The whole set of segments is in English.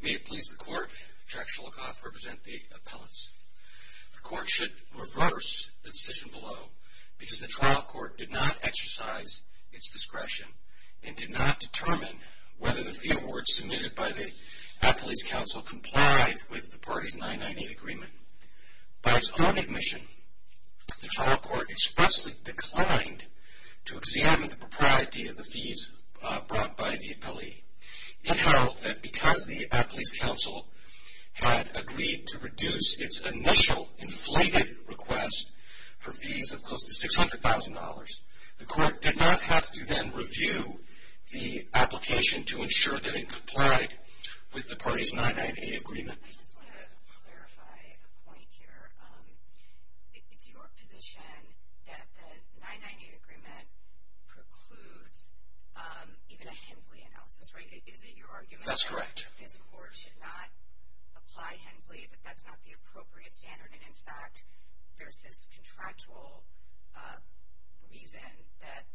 May it please the Court, Jack Shulakoff representing the appellants. The Court should reverse the decision below because the trial court did not exercise its discretion and did not determine whether the few awards submitted by the Appeals Council complied with the party's 998 agreement. By its own admission, the trial court expressly declined to examine the propriety of the fees brought by the appellee. It held that because the Appeals Council had agreed to reduce its initial inflated request for fees of close to $600,000, the Court did not have to then review the application to ensure that it complied with the party's 998 agreement. I just want to clarify a point here. It's your position that the 998 agreement precludes even a Hensley analysis, right? Is it your argument that this Court should not apply Hensley, that that's not the appropriate standard and in fact there's this contractual reason that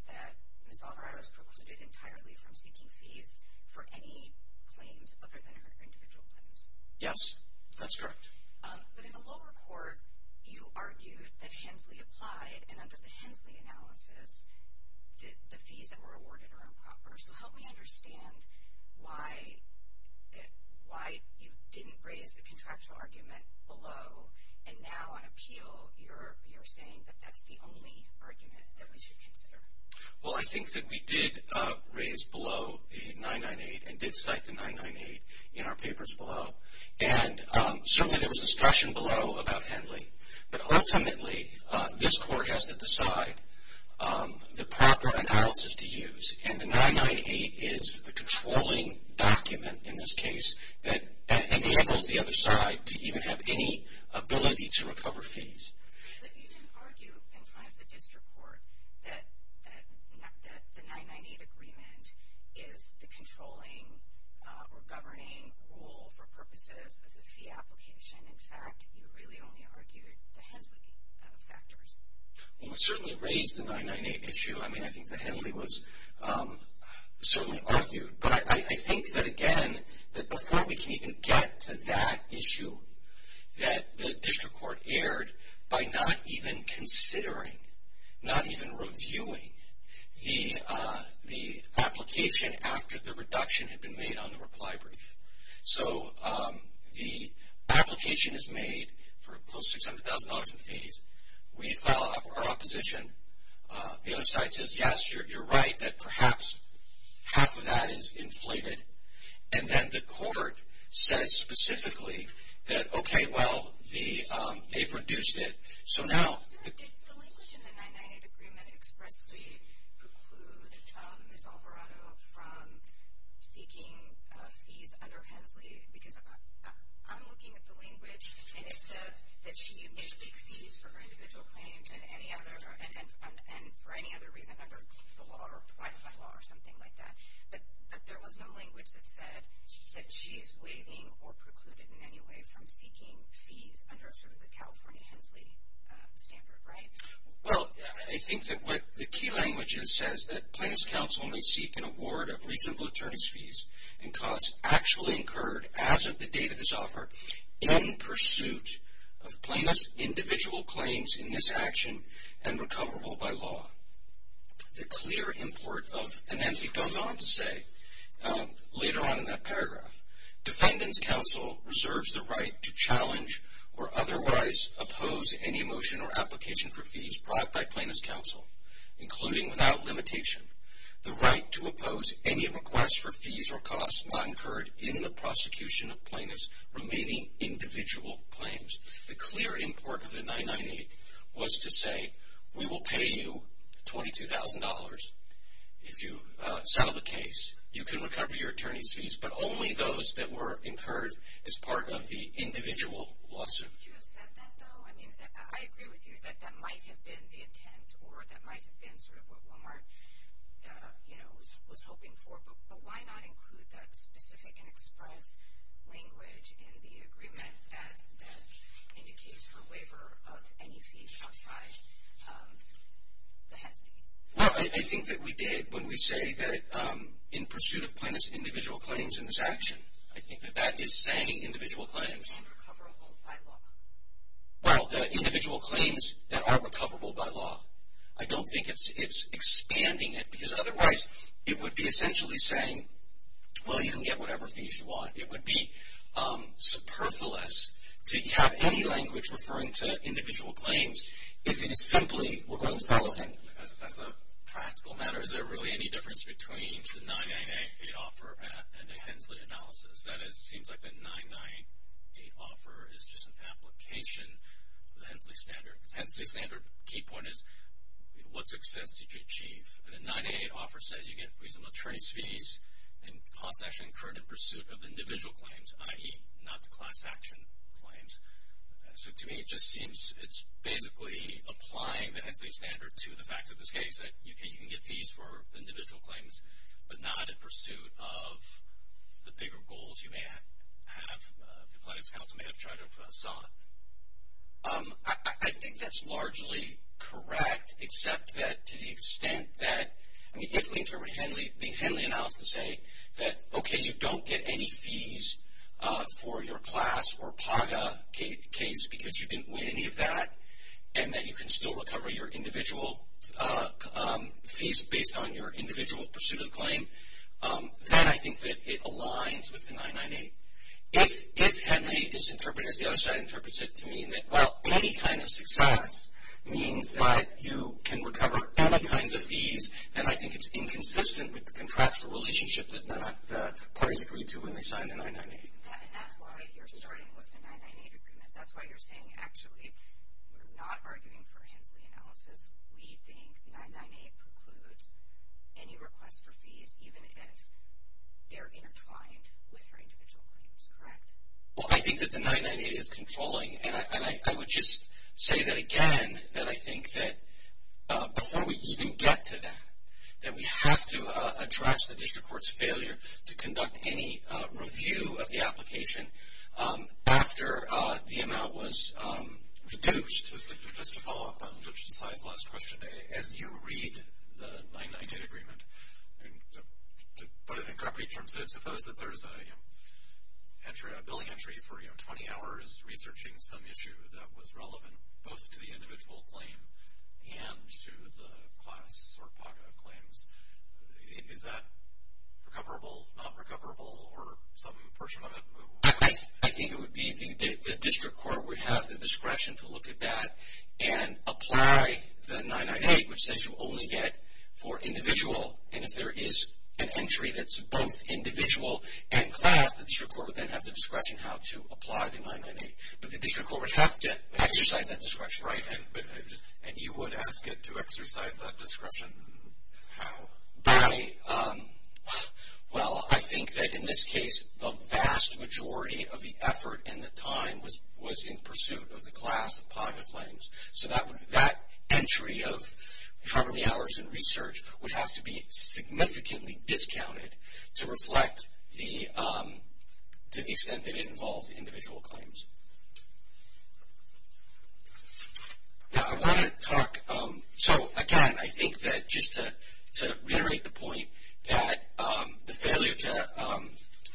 Ms. Alvarado is precluded entirely from seeking fees for any claims other than her individual claims? Yes, that's correct. But in the lower court, you argued that Hensley applied and under the Hensley analysis, the fees that were awarded are improper. So help me understand why you didn't raise the contractual argument below and now on appeal you're saying that that's the only argument that we should consider. Well, I think that we did raise below the 998 and did cite the 998 in our papers below. And certainly there was discussion below about Hensley. But ultimately, this Court has to decide the proper analysis to use and the 998 is a controlling document in this case that enables the other side to even have any ability to recover fees. But you didn't argue in front of the district court that the 998 agreement is the controlling or governing rule for purposes of the fee application. In fact, you really only argued the Hensley factors. Well, we certainly raised the 998 issue. I mean, I think the Hensley was certainly argued. But I think that again, that before we can even get to that issue that the district court erred by not even considering, not even reviewing the application after the reduction had been made on the reply brief. So the application is made for close to $700,000 in fees. We file our opposition. The other side says, yes, you're right, that perhaps half of that is inflated. And then the court says specifically that, okay, well, they've reduced it. So now... Did the language in the 998 agreement expressly preclude Ms. Alvarado from seeking fees under Hensley? Because I'm looking at the language and it says that she may seek fees for her individual claims and any other, and for any other reason under the law or provided by law or something like that. But there was no language that said that she is waiving or precluded in any way from seeking fees under sort of the California Hensley standard, right? Well, I think that what the key language is says that plaintiff's counsel may seek an award of reasonable attorney's fees and costs actually incurred as of the date of this offer in pursuit of plaintiff's individual claims in this action and recoverable by law. The clear import of, and then he goes on to say later on in that paragraph, defendant's counsel reserves the right to challenge or otherwise oppose any motion or application for fees brought by plaintiff's counsel, including without limitation, the right to oppose any request for fees or costs not incurred in the prosecution of plaintiff's remaining individual claims. The clear import of the 998 was to say, we will pay you $22,000 if you settle the case. You can recover your attorney's fees, but only those that were incurred as part of the individual lawsuit. Would you have said that, though? I mean, I agree with you that that might have been the intent or that might have been sort of what Walmart, you know, was hoping for. But why not include that specific and express language in the agreement that indicates her waiver of any fees outside the HESI? Well, I think that we did when we say that in pursuit of plaintiff's individual claims in this action. I think that that is saying individual claims. And recoverable by law. Well, the individual claims that are recoverable by law. I don't think it's expanding it, because otherwise it would be essentially saying, well, you can get whatever fees you want. It would be superfluous to have any language referring to individual claims. If it is simply, we're going to follow him. As a practical matter, is there really any difference between the 998 offer and the Hensley analysis? That is, it seems like the 998 offer is just an application of the Hensley standard. Hensley standard, key point is, what success did you achieve? And the 998 offer says you get reasonable attorney's fees and costs actually incurred in pursuit of individual claims, i.e., not the class action claims. So to me, it just seems it's basically applying the Hensley standard to the fact of this case. That you can get fees for individual claims, but not in pursuit of the bigger goals you may have, the plaintiff's counsel may have tried to have sought. I think that's largely correct, except that to the extent that, I mean, if we interpret Hensley, the Hensley analysis to say that, okay, you don't get any fees for your class or PAGA case, because you didn't win any of that, and that you can still recover your individual fees based on your individual pursuit of the claim, then I think that it aligns with the 998. If Hensley is interpreted, as the other side interprets it to mean that, well, any kind of success means that you can recover any kinds of fees, and I think it's inconsistent with the contractual relationship that the parties agreed to when they signed the 998. And that's why you're starting with the 998 agreement. That's why you're saying, actually, we're not arguing for Hensley analysis. We think the 998 precludes any request for fees, even if they're intertwined with her individual claims, correct? Well, I think that the 998 is controlling, and I would just say that again, that I think that before we even get to that, that we have to address the district court's failure to conduct any review of the application after the amount was reduced. Just to follow up on Judge Desai's last question, as you read the 998 agreement, and to put it in concrete terms, suppose that there's a billing entry for 20 hours researching some issue that was relevant both to the individual claim and to the class or PACA claims. Is that recoverable, not recoverable, or some portion of it? I think it would be the district court would have the discretion to look at that and apply the 998, which says you only get for individual. And if there is an entry that's both individual and class, the district court would then have the discretion how to apply the 998. But the district court would have to exercise that discretion, right? And you would ask it to exercise that discretion how? By, well, I think that in this case, the vast majority of the effort and the time was in pursuit of the class of PACA claims. So that entry of how many hours in research would have to be significantly discounted to reflect the, to the extent that it involves individual claims. Now, I want to talk, so again, I think that just to reiterate the point that the failure to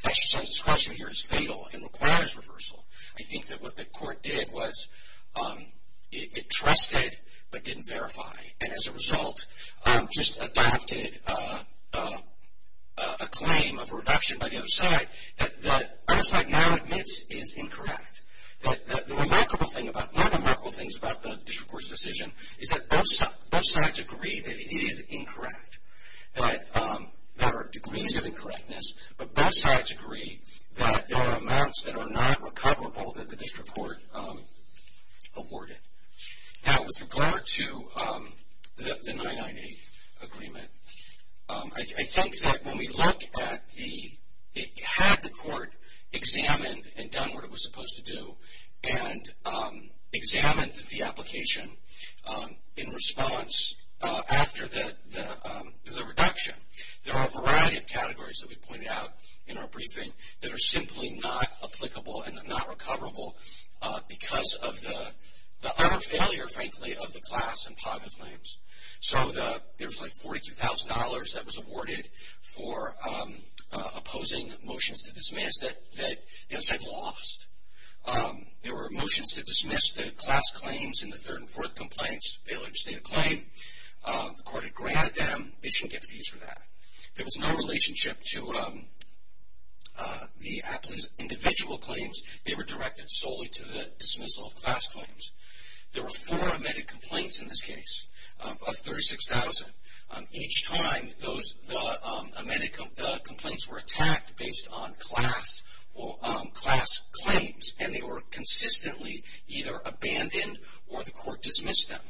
exercise discretion here is fatal and requires reversal. I think that what the court did was it trusted but didn't verify. And as a result, just adopted a claim of reduction by the other side that the other side now admits is incorrect. That the remarkable thing about, one of the remarkable things about the district court's decision is that both sides agree that it is incorrect. That there are degrees of incorrectness, but both sides agree that there are amounts that are not recoverable that the district court awarded. Now, with regard to the 998 agreement, I think that when we look at the, had the court examined and done what it was supposed to do and examined the application in response after the reduction, there are a variety of categories that we pointed out in our briefing that are simply not applicable and are not recoverable because of the utter failure, frankly, of the class and private claims. So, there's like $42,000 that was awarded for opposing motions to dismiss that the other side lost. There were motions to dismiss the class claims in the third and fourth compliance failure to state a claim. The court had granted them. They shouldn't get fees for that. There was no relationship to the individual claims. They were directed solely to the dismissal of class claims. There were four amended complaints in this case of 36,000. Each time those, the amended complaints were attacked based on class or class claims and they were consistently either abandoned or the court dismissed them.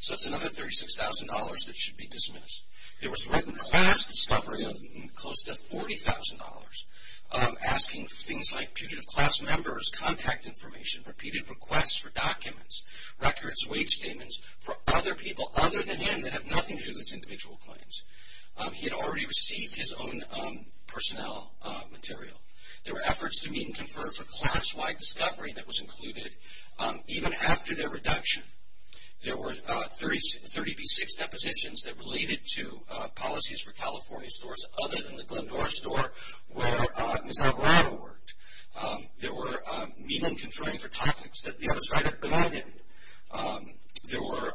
So, it's another $36,000 that should be dismissed. There was written class discovery of close to $40,000. Asking things like putative class members, contact information, repeated requests for documents, records, wage statements for other people other than him that have nothing to do with individual claims. He had already received his own personnel material. There were efforts to meet and confer for class-wide discovery that was included. Even after their reduction, there were 36 depositions that related to policies for California stores other than the Glendora store where Ms. Alvarado worked. There were meeting and conferring for topics that the other side had abandoned. There were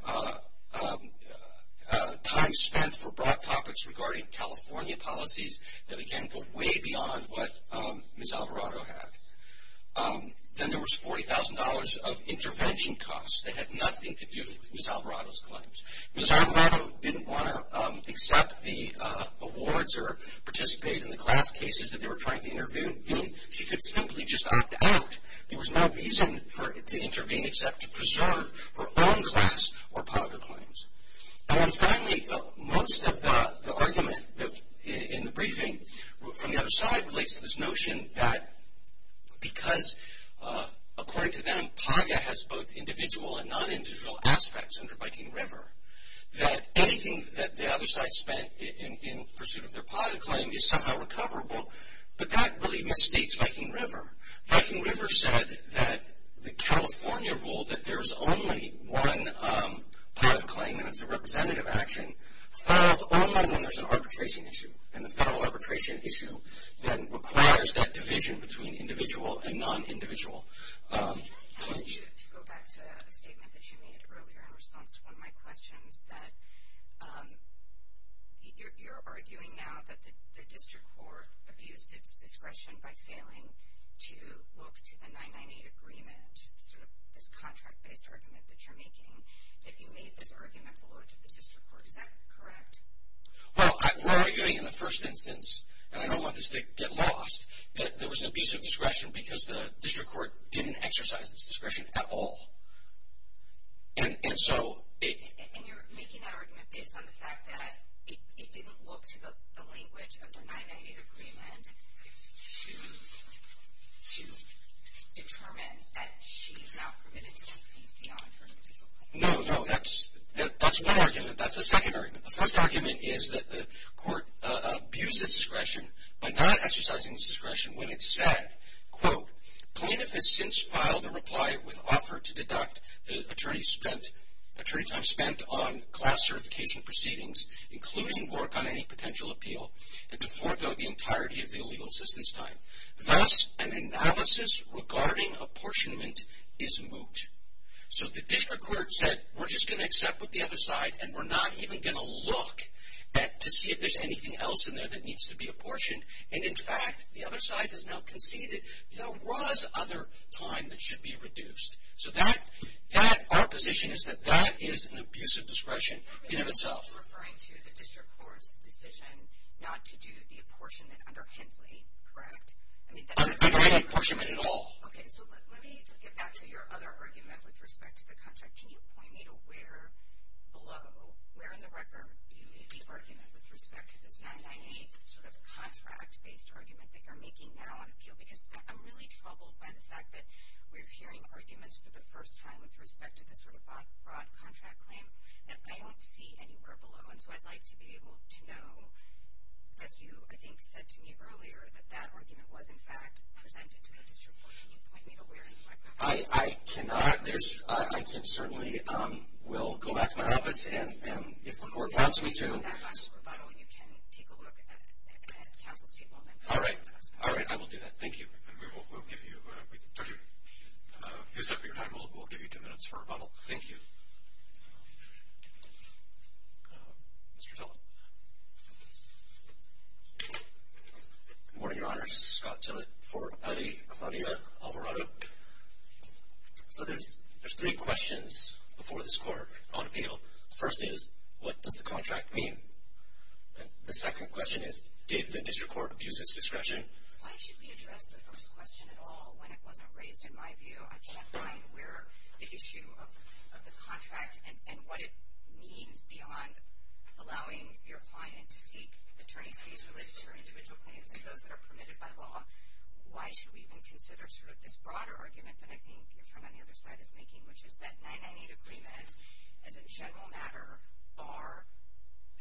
time spent for broad topics regarding California policies that again go way beyond what Ms. Alvarado had. Then there was $40,000 of intervention costs that had nothing to do with Ms. Alvarado's claims. Ms. Alvarado didn't want to accept the awards or participate in the class cases that they were trying to intervene. She could simply just act out. There was no reason for her to intervene except to preserve her own class or PAGA claims. And then finally, most of the argument in the briefing from the other side relates to this notion that because according to them, PAGA has both individual and non-individual aspects under Viking River, that anything that the other side spent in pursuit of their PAGA claim is somehow recoverable. But that really misstates Viking River. Viking River said that the California rule that there's only one PAGA claim and it's a representative action, falls only when there's an arbitration issue. And the federal arbitration issue then requires that division between individual and non-individual claims. To go back to a statement that you made earlier in response to one of my questions, that you're arguing now that the district court abused its discretion by failing to look to the 998 agreement, sort of this contract-based argument that you're making, that you made this argument below to the district court. Is that correct? Well, we're arguing in the first instance, and I don't want this to get lost, that there was an abuse of discretion because the district court didn't exercise its discretion at all. And so it. And you're making that argument based on the fact that it didn't look to the language of the 998 agreement to determine that she is now permitted to seek fees beyond her individual claim. No, no. That's one argument. That's a second argument. The first argument is that the court abused its discretion by not exercising its discretion when it said, quote, plaintiff has since filed a reply with offer to deduct the attorney spent, attorney time spent on class certification proceedings, including work on any potential appeal, and to forego the entirety of the legal assistance time. Thus, an analysis regarding apportionment is moot. So the district court said, we're just going to accept with the other side, and we're not even going to look to see if there's anything else in there that needs to be apportioned, and in fact, the other side has now conceded there was other time that should be reduced. So that, our position is that that is an abuse of discretion in and of itself. Are you referring to the district court's decision not to do the apportionment under Hensley, correct? Under any apportionment at all. Okay, so let me get back to your other argument with respect to the contract. Can you point me to where below, where in the record you made the argument with respect to this 998 sort of contract-based argument that you're making now on appeal? Because I'm really troubled by the fact that we're hearing arguments for the first time with respect to this sort of broad contract claim that I don't see anywhere below. And so I'd like to be able to know, as you, I think, said to me earlier, that that argument was, in fact, presented to the district court. Can you point me to where in the record that is? I cannot. There's, I can certainly, we'll go back to my office and if the court wants me to. And if that's a rebuttal, you can take a look at counsel's table and then. All right. All right, I will do that. Thank you. And we will, we'll give you, we'll give you two minutes for a rebuttal. Thank you. Mr. Tillett. Good morning, Your Honor. This is Scott Tillett for Allie Claudia Alvarado. So there's three questions before this court on appeal. First is, what does the contract mean? The second question is, did the district court abuse its discretion? Why should we address the first question at all when it wasn't raised? In my view, I can't find where the issue of the contract and what it means beyond allowing your client to seek attorney's fees related to your individual claims and those that are permitted by law. Why should we even consider sort of this broader argument that I think your friend on the other side is making, which is that 998 agreements as a general matter are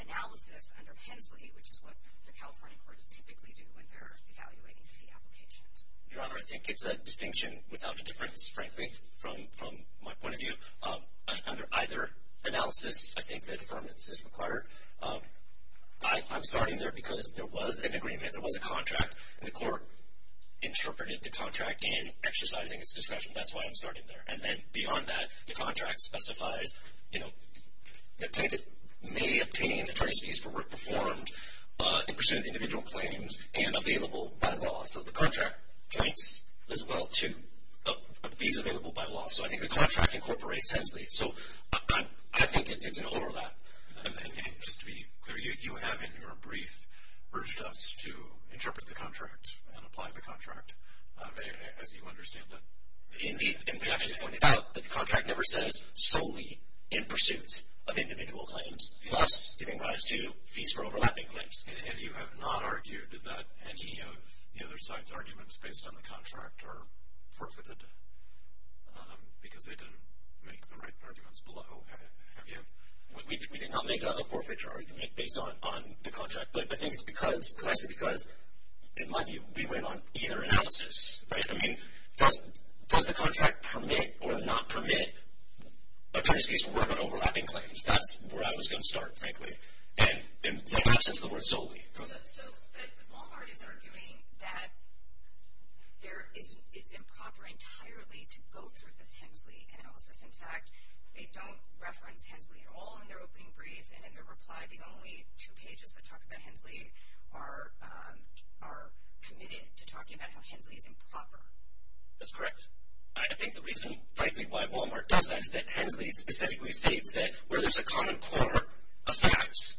analysis under Hensley, which is what the California courts typically do when they're evaluating fee applications. Your Honor, I think it's a distinction without a difference, frankly, from my point of view. Under either analysis, I think that affirmance is required. I'm starting there because there was an agreement, there was a contract, and the court interpreted the contract in exercising its discretion. That's why I'm starting there. And then beyond that, the contract specifies the plaintiff may obtain attorney's fees for work performed in pursuit of individual claims and available by law. So the contract points as well to fees available by law. So I think the contract incorporates Hensley. So I think it's an overlap. And just to be clear, you have in your brief urged us to interpret the contract and apply the contract as you understand it? Indeed, and we actually pointed out that the contract never says solely in pursuit of individual claims, plus giving rise to fees for overlapping claims. And you have not argued that any of the other side's arguments based on the contract are forfeited? Because they didn't make the right arguments below, have you? We did not make a forfeiture argument based on the contract. But I think it's precisely because, in my view, we went on either analysis, right? I mean, does the contract permit or not permit attorney's fees for work on overlapping claims? That's where I was going to start, frankly, in the absence of the word solely. So Wal-Mart is arguing that it's improper entirely to go through this Hensley analysis. In fact, they don't reference Hensley at all in their opening brief. And in their reply, the only two pages that talk about Hensley are committed to talking about how Hensley is improper. That's correct. I think the reason, frankly, why Wal-Mart does that is that Hensley specifically states that where there's a common core of facts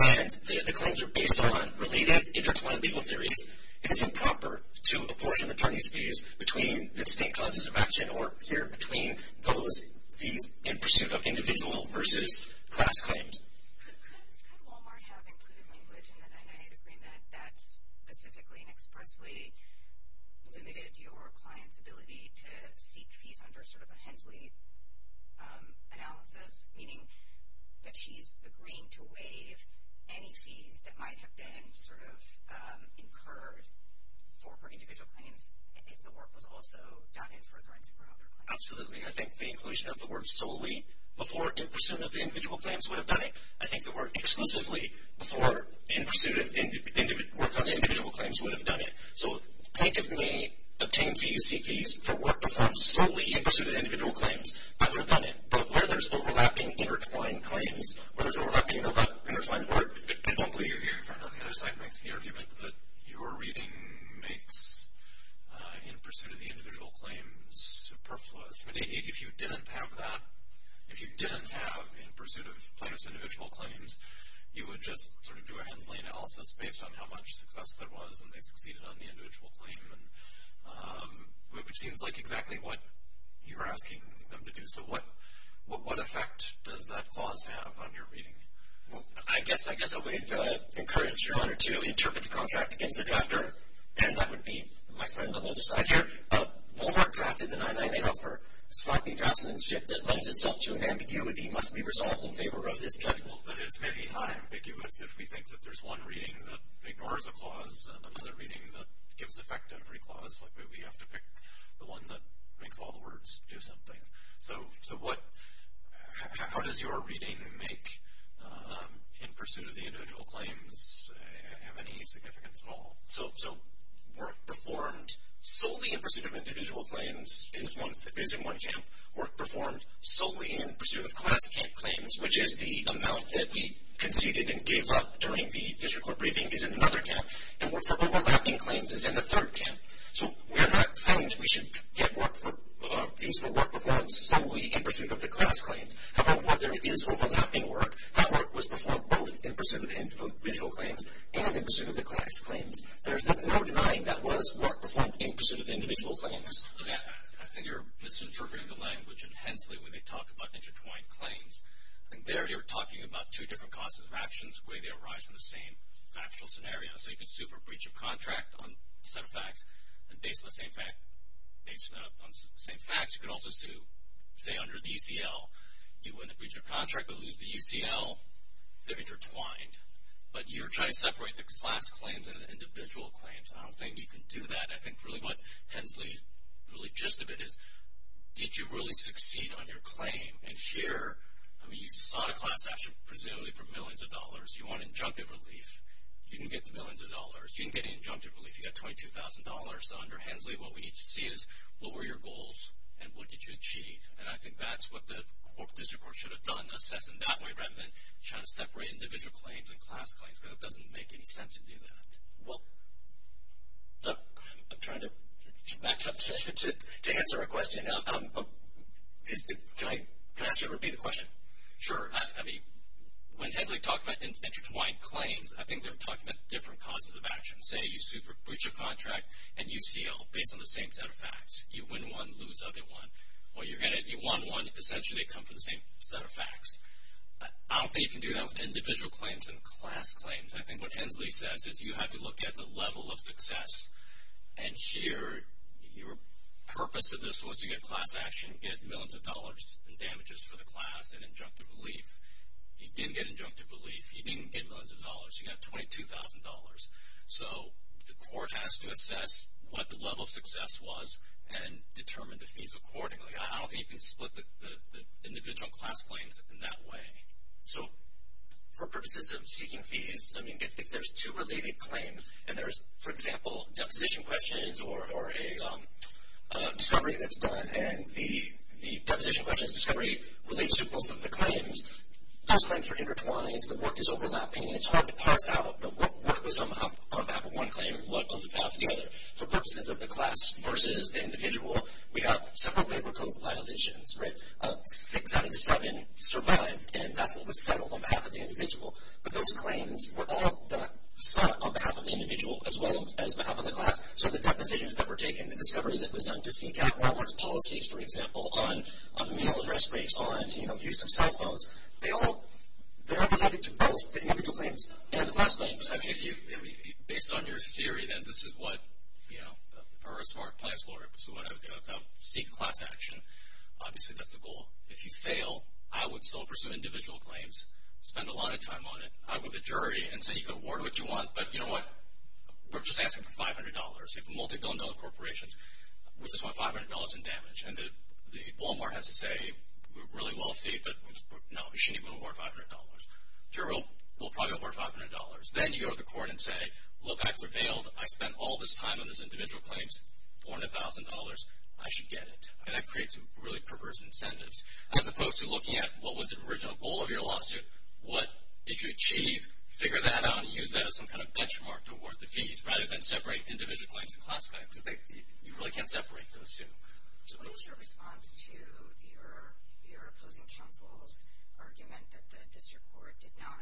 and the claims are based on related intertwined legal theories, it is improper to apportion attorney's fees between the distinct causes of action or here between those fees in pursuit of individual versus class claims. Could Wal-Mart have included language in the 998 agreement that specifically and expressly limited your client's ability to seek fees under sort of a Hensley analysis? Meaning that she's agreeing to waive any fees that might have been sort of incurred for her individual claims if the work was also done in for a forensic or other claim? Absolutely. I think the inclusion of the word solely before in pursuit of the individual claims would have done it. I think the word exclusively before in pursuit of work on individual claims would have done it. So plaintiff may obtain fees, seek fees for work performed solely in pursuit of individual claims, that would have done it. But where there's overlapping intertwined claims, where there's overlapping intertwined work, I don't believe you're hearing from her. The other side makes the argument that your reading makes in pursuit of the individual claims superfluous. I mean, if you didn't have that, if you didn't have in pursuit of plaintiff's individual claims, you would just sort of do a Hensley analysis based on how much success there was and they succeeded on the individual claim, which seems like exactly what you're asking them to do. So what effect does that clause have on your reading? Well, I guess I would encourage your honor to interpret the contract against the drafter, and that would be my friend on the other side here. Walmart drafted the 999 offer slightly drasticanship that lends itself to an ambiguity must be resolved in favor of this judgment. But it's maybe not ambiguous if we think that there's one reading that ignores a clause and another reading that gives effect to every clause. Like we have to pick the one that makes all the words do something. So how does your reading make in pursuit of the individual claims have any significance at all? So work performed solely in pursuit of individual claims is in one camp. Work performed solely in pursuit of class camp claims, which is the amount that we conceded and gave up during the district court briefing, is in another camp. And work for overlapping claims is in the third camp. So we're not saying that we should get work for, views for work performed solely in pursuit of the class claims. However, what there is overlapping work, that work was performed both in pursuit of individual claims and in pursuit of the class claims. There's no denying that was work performed in pursuit of individual claims. I think you're misinterpreting the language in Hensley when they talk about intertwined claims. I think there you're talking about two different causes of actions where they arise from the same factual scenario. So you can sue for breach of contract on a set of facts. And based on the same facts, you can also sue, say, under the UCL. You win the breach of contract but lose the UCL. They're intertwined. But you're trying to separate the class claims and the individual claims. I don't think you can do that. I think really what Hensley's really gist of it is, did you really succeed on your claim? And here, I mean, you sought a class action presumably for millions of dollars. You want injunctive relief. You didn't get the millions of dollars. You didn't get any injunctive relief. You got $22,000. So under Hensley, what we need to see is, what were your goals and what did you achieve? And I think that's what the court, the district court should have done. Assess in that way rather than trying to separate individual claims and class claims. Because it doesn't make any sense to do that. Well, I'm trying to back up to answer a question. Now, can I ask you to repeat the question? Sure. I mean, when Hensley talked about intertwined claims, I think they're talking about different causes of action. Say you sued for breach of contract and UCL based on the same set of facts. You win one, lose other one. Well, you're going to, you won one. Essentially, they come from the same set of facts. I don't think you can do that with individual claims and class claims. I think what Hensley says is you have to look at the level of success. And here, your purpose of this was to get class action, get millions of dollars in damages for the class and injunctive relief. You didn't get injunctive relief. You didn't get millions of dollars. You got $22,000. So the court has to assess what the level of success was and determine the fees accordingly. I don't think you can split the individual class claims in that way. So for purposes of seeking fees, I mean, if there's two related claims and there's, for example, deposition questions or a discovery that's done and the deposition questions discovery relates to both of the claims, those claims are intertwined. The work is overlapping. It's hard to parse out what was on behalf of one claim and what on behalf of the other. For purposes of the class versus the individual, we have several labor code violations, right? Six out of the seven survived, and that's what was settled on behalf of the individual. But those claims were all sought on behalf of the individual as well as on behalf of the class. So the depositions that were taken, the discovery that was done to seek out Walmart's policies, for example, on meal and rest breaks, on, you know, use of cell phones. They all, they're related to both the individual claims and the class claims. I mean, if you, based on your theory, then this is what, you know, or a smart plan is what I would do. I would seek class action. Obviously, that's the goal. If you fail, I would still pursue individual claims, spend a lot of time on it. I would go to the jury and say, you can award what you want, but you know what? We're just asking for $500. We have a multi-billion dollar corporation. We just want $500 in damage. And the Walmart has to say, we're really wealthy, but no, we shouldn't even award $500. Jury will probably award $500. Then you go to the court and say, look, I prevailed. I spent all this time on this individual claims, $400,000. I should get it. And that creates really perverse incentives, as opposed to looking at what was the original goal of your lawsuit. What did you achieve? Figure that out and use that as some kind of benchmark to award the fees, rather than separate individual claims and class claims. Because they, you really can't separate those two. So what is your response to your opposing counsel's argument that the district court did not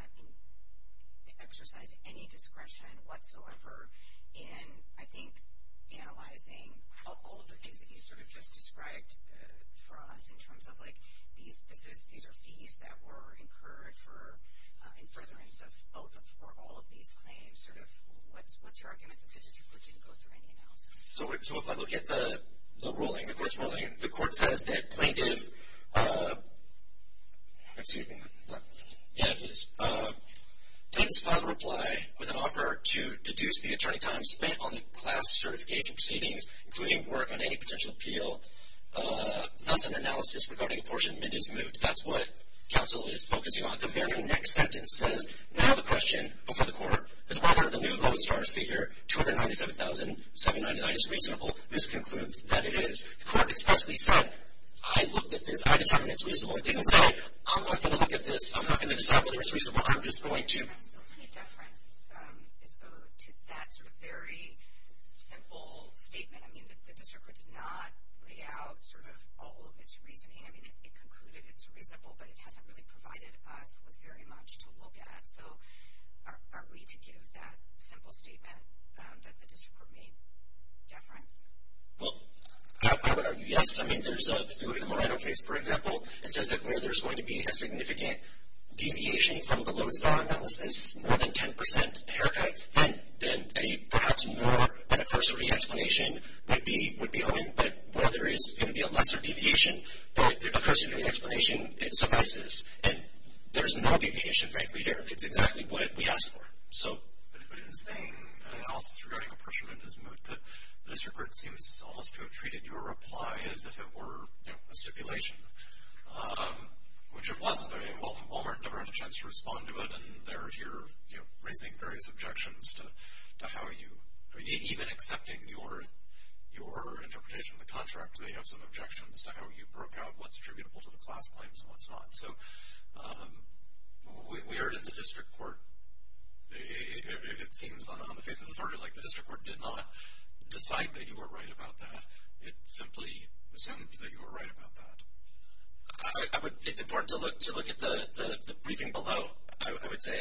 exercise any discretion whatsoever in, I think, analyzing all of the things that you sort of just described for us, in terms of, like, these are fees that were incurred in furtherance of all of these claims. Sort of, what's your argument that the district court didn't go through any analysis? So if I look at the ruling, the court's ruling, the court says that plaintiff, excuse me. Yeah, it is. Plaintiff's filed a reply with an offer to deduce the attorney time spent on the class certification proceedings, including work on any potential appeal. That's an analysis regarding a portion of minutes moved. That's what counsel is focusing on. The very next sentence says, now the question before the court is whether the new Lodestar figure, $297,799, is reasonable. This concludes that it is. The court expressly said, I looked at this. I determined it's reasonable. It didn't say, I'm not going to look at this. I'm not going to decide whether it's reasonable. I'm just going to. Is there any deference to that sort of very simple statement? I mean, the district court did not lay out sort of all of its reasoning. I mean, it concluded it's reasonable, but it hasn't really provided us with very much to look at. So are we to give that simple statement that the district court made deference? Well, I would argue yes. I mean, if you look at the Moreno case, for example, it says that where there's going to be a significant deviation from the Lodestar analysis, more than 10% haircut, then perhaps more than a cursory explanation would be open. But where there is going to be a lesser deviation, a cursory explanation suffices. And there's no deviation, frankly, here. It's exactly what we asked for. So. But in saying an analysis regarding apportionment is moot, the district court seems almost to have treated your reply as if it were a stipulation. Which it wasn't. I mean, Walmart never had a chance to respond to it, and they're here, you know, raising various objections to how you, I mean, even accepting your interpretation of the contract, they have some objections to how you broke out what's attributable to the class claims and what's not. So we heard in the district court, it seems on the face of this order like the district court did not decide that you were right about that. It simply seemed that you were right about that. I would, it's important to look at the briefing below, I would say.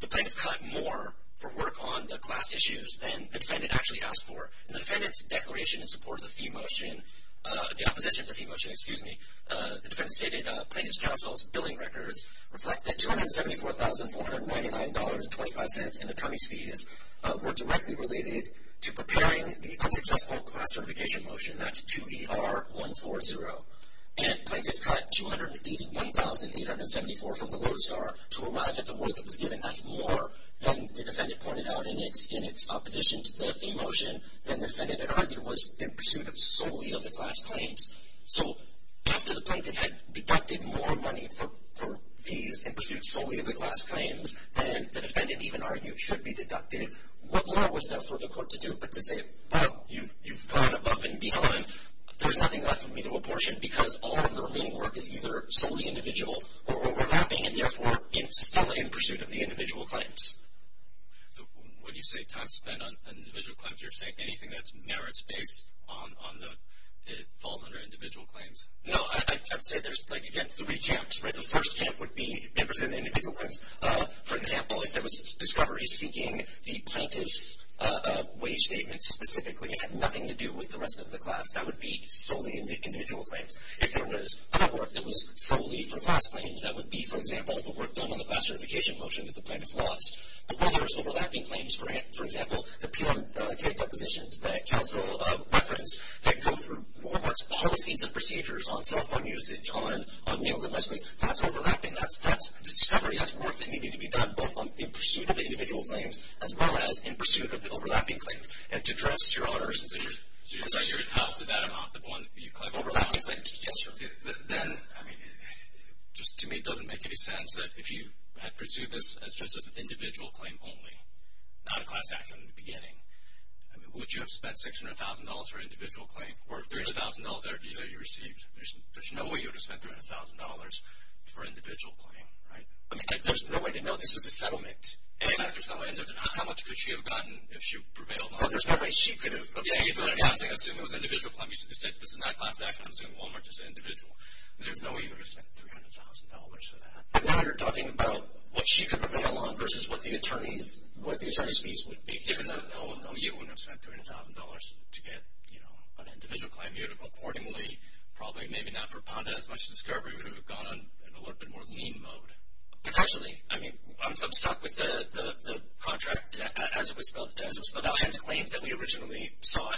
The plaintiff cut more for work on the class issues than the defendant actually asked for. And the defendant's declaration in support of the fee motion, the opposition to the fee motion, excuse me, the defendant stated plaintiff's counsel's billing records reflect that $274,499.25 in attorney's fees were directly related to preparing the unsuccessful class certification motion, that's 2ER140. And plaintiff cut $281,874 from the Lodestar to arrive at the work that was given. That's more than the defendant pointed out in its opposition to the fee motion than the defendant had argued was in pursuit solely of the class claims. So after the plaintiff had deducted more money for fees in pursuit solely of the class claims, than the defendant even argued should be deducted, what more was there for the court to do but to say, well, you've gone above and beyond, there's nothing left for me to apportion because all of the remaining work is either solely individual or overlapping and therefore, it's still in pursuit of the individual claims. So when you say time spent on individual claims, you're saying anything that's merits based on the, it falls under individual claims? No, I'd say there's like again, three camps, right? The first camp would be in pursuit of the individual claims. For example, if there was a discovery seeking the plaintiff's wage statement specifically and had nothing to do with the rest of the class, that would be solely in the individual claims. If there was other work that was solely for class claims, that would be for example, the work done on the class certification motion that the plaintiff lost. But whether it's overlapping claims, for example, the peer-to-peer depositions that counsel referenced that go through Walmart's policies and procedures on cell phone usage, on mail advertisements, that's overlapping, that's discovery, that's work that needed to be done both in pursuit of the individual claims as well as in pursuit of the overlapping claims. And to address your honor, so you're saying you're in house with that amount, the one you claim overlapping claims? Yes, sir. Then, I mean, just to me, it doesn't make any sense that if you had pursued this as just an individual claim only, not a class action in the beginning, I mean, would you have spent $600,000 for an individual claim or $30,000 that you received? There's no way you would have spent $300,000 for an individual claim, right? I mean, there's no way to know. This is a settlement. Exactly, there's no way. And how much could she have gotten if she prevailed on it? Well, there's no way she could have. Yeah, I'm saying assume it was an individual claim. You said this is not a class action. I'm saying Walmart is an individual. There's no way you would have spent $300,000 for that. Now you're talking about what she could prevail on versus what the attorney's fees would be. Given that, no, you wouldn't have spent $300,000 to get, you know, an individual claim. Accordingly, probably maybe not for PONDA as much as for SCARBOROUGH, you would have gone on a little bit more lean mode. Potentially. I mean, I'm stuck with the contract as it was spelled out and the claims that we originally saw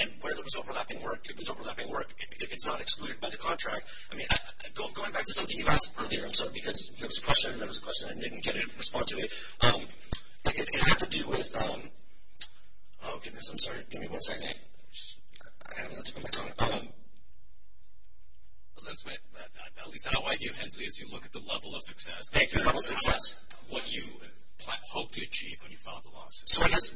and where there was overlapping work. It was overlapping work. If it's not excluded by the contract, I mean, going back to something you asked earlier, I'm sorry, because there was a question and there was a question. I didn't get a response to it. Like, it had to do with, oh, goodness, I'm sorry, give me one second. I have not taken my time. Let's make, at least I don't like you, Hensley, as you look at the level of success. Thank you. Level of success. What you hoped to achieve when you filed the lawsuit. So I guess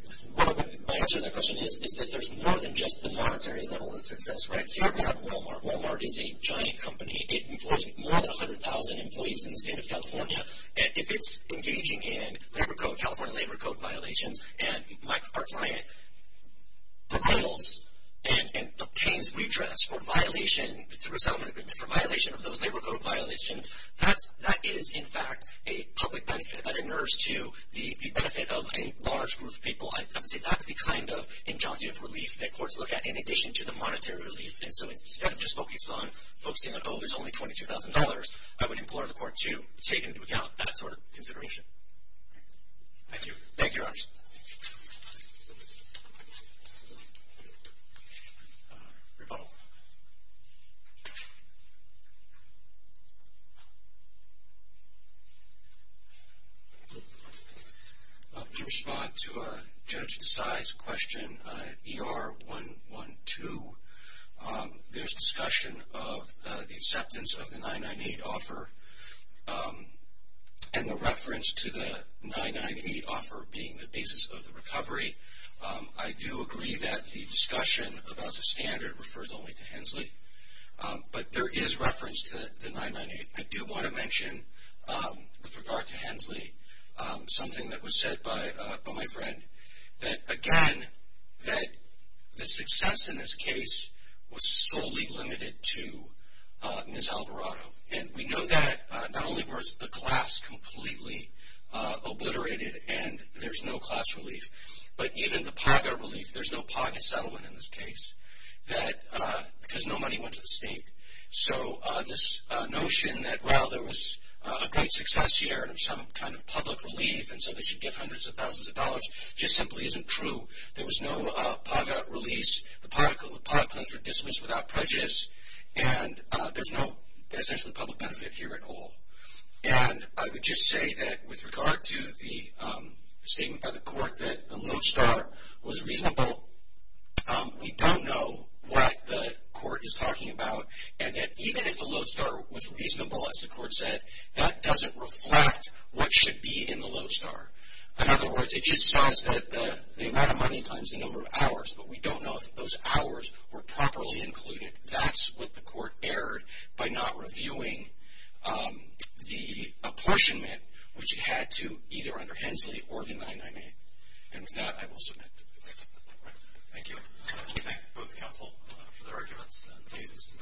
my answer to that question is that there's more than just the monetary level of success, right? Here we have Walmart. Walmart is a giant company. It employs more than 100,000 employees in the state of California. And if it's engaging in labor code, California labor code violations, and our client, the titles and obtains redress for violation through a settlement agreement, for violation of those labor code violations, that is, in fact, a public benefit that inerts to the benefit of a large group of people. I would say that's the kind of injunctive relief that courts look at in addition to the monetary relief. And so instead of just focused on focusing on, oh, there's only $22,000, I would implore the court to take into account that sort of consideration. Thank you. Thank you, Your Honors. Rebuttal. To respond to Judge Desai's question, ER 112, there's discussion of the acceptance of the 998 offer, and the reference to the 998 offer being the basis of the recovery. I do agree that the discussion about the standard refers only to Hensley. But there is reference to the 998. I do want to mention, with regard to Hensley, something that was said by my friend. That, again, that the success in this case was solely limited to Ms. Alvarado. And we know that, not only was the class completely obliterated, and there's no class relief, but even the PAGA relief, there's no PAGA settlement in this case, because no money went to the state. So this notion that, well, there was a great success here, and some kind of public relief, and so they should get hundreds of thousands of dollars, just simply isn't true. There was no PAGA release. The PAGA claims were dismissed without prejudice. And there's no, essentially, public benefit here at all. And I would just say that, with regard to the statement by the court that the lodestar was reasonable, we don't know what the court is talking about. And that even if the lodestar was reasonable, as the court said, that doesn't reflect what should be in the lodestar. In other words, it just says that they wanted money times the number of hours, but we don't know if those hours were properly included. That's what the court erred by not reviewing the apportionment, which had to either under Hensley or the 998. And with that, I will submit. All right, thank you. We thank both counsel for their arguments and cases.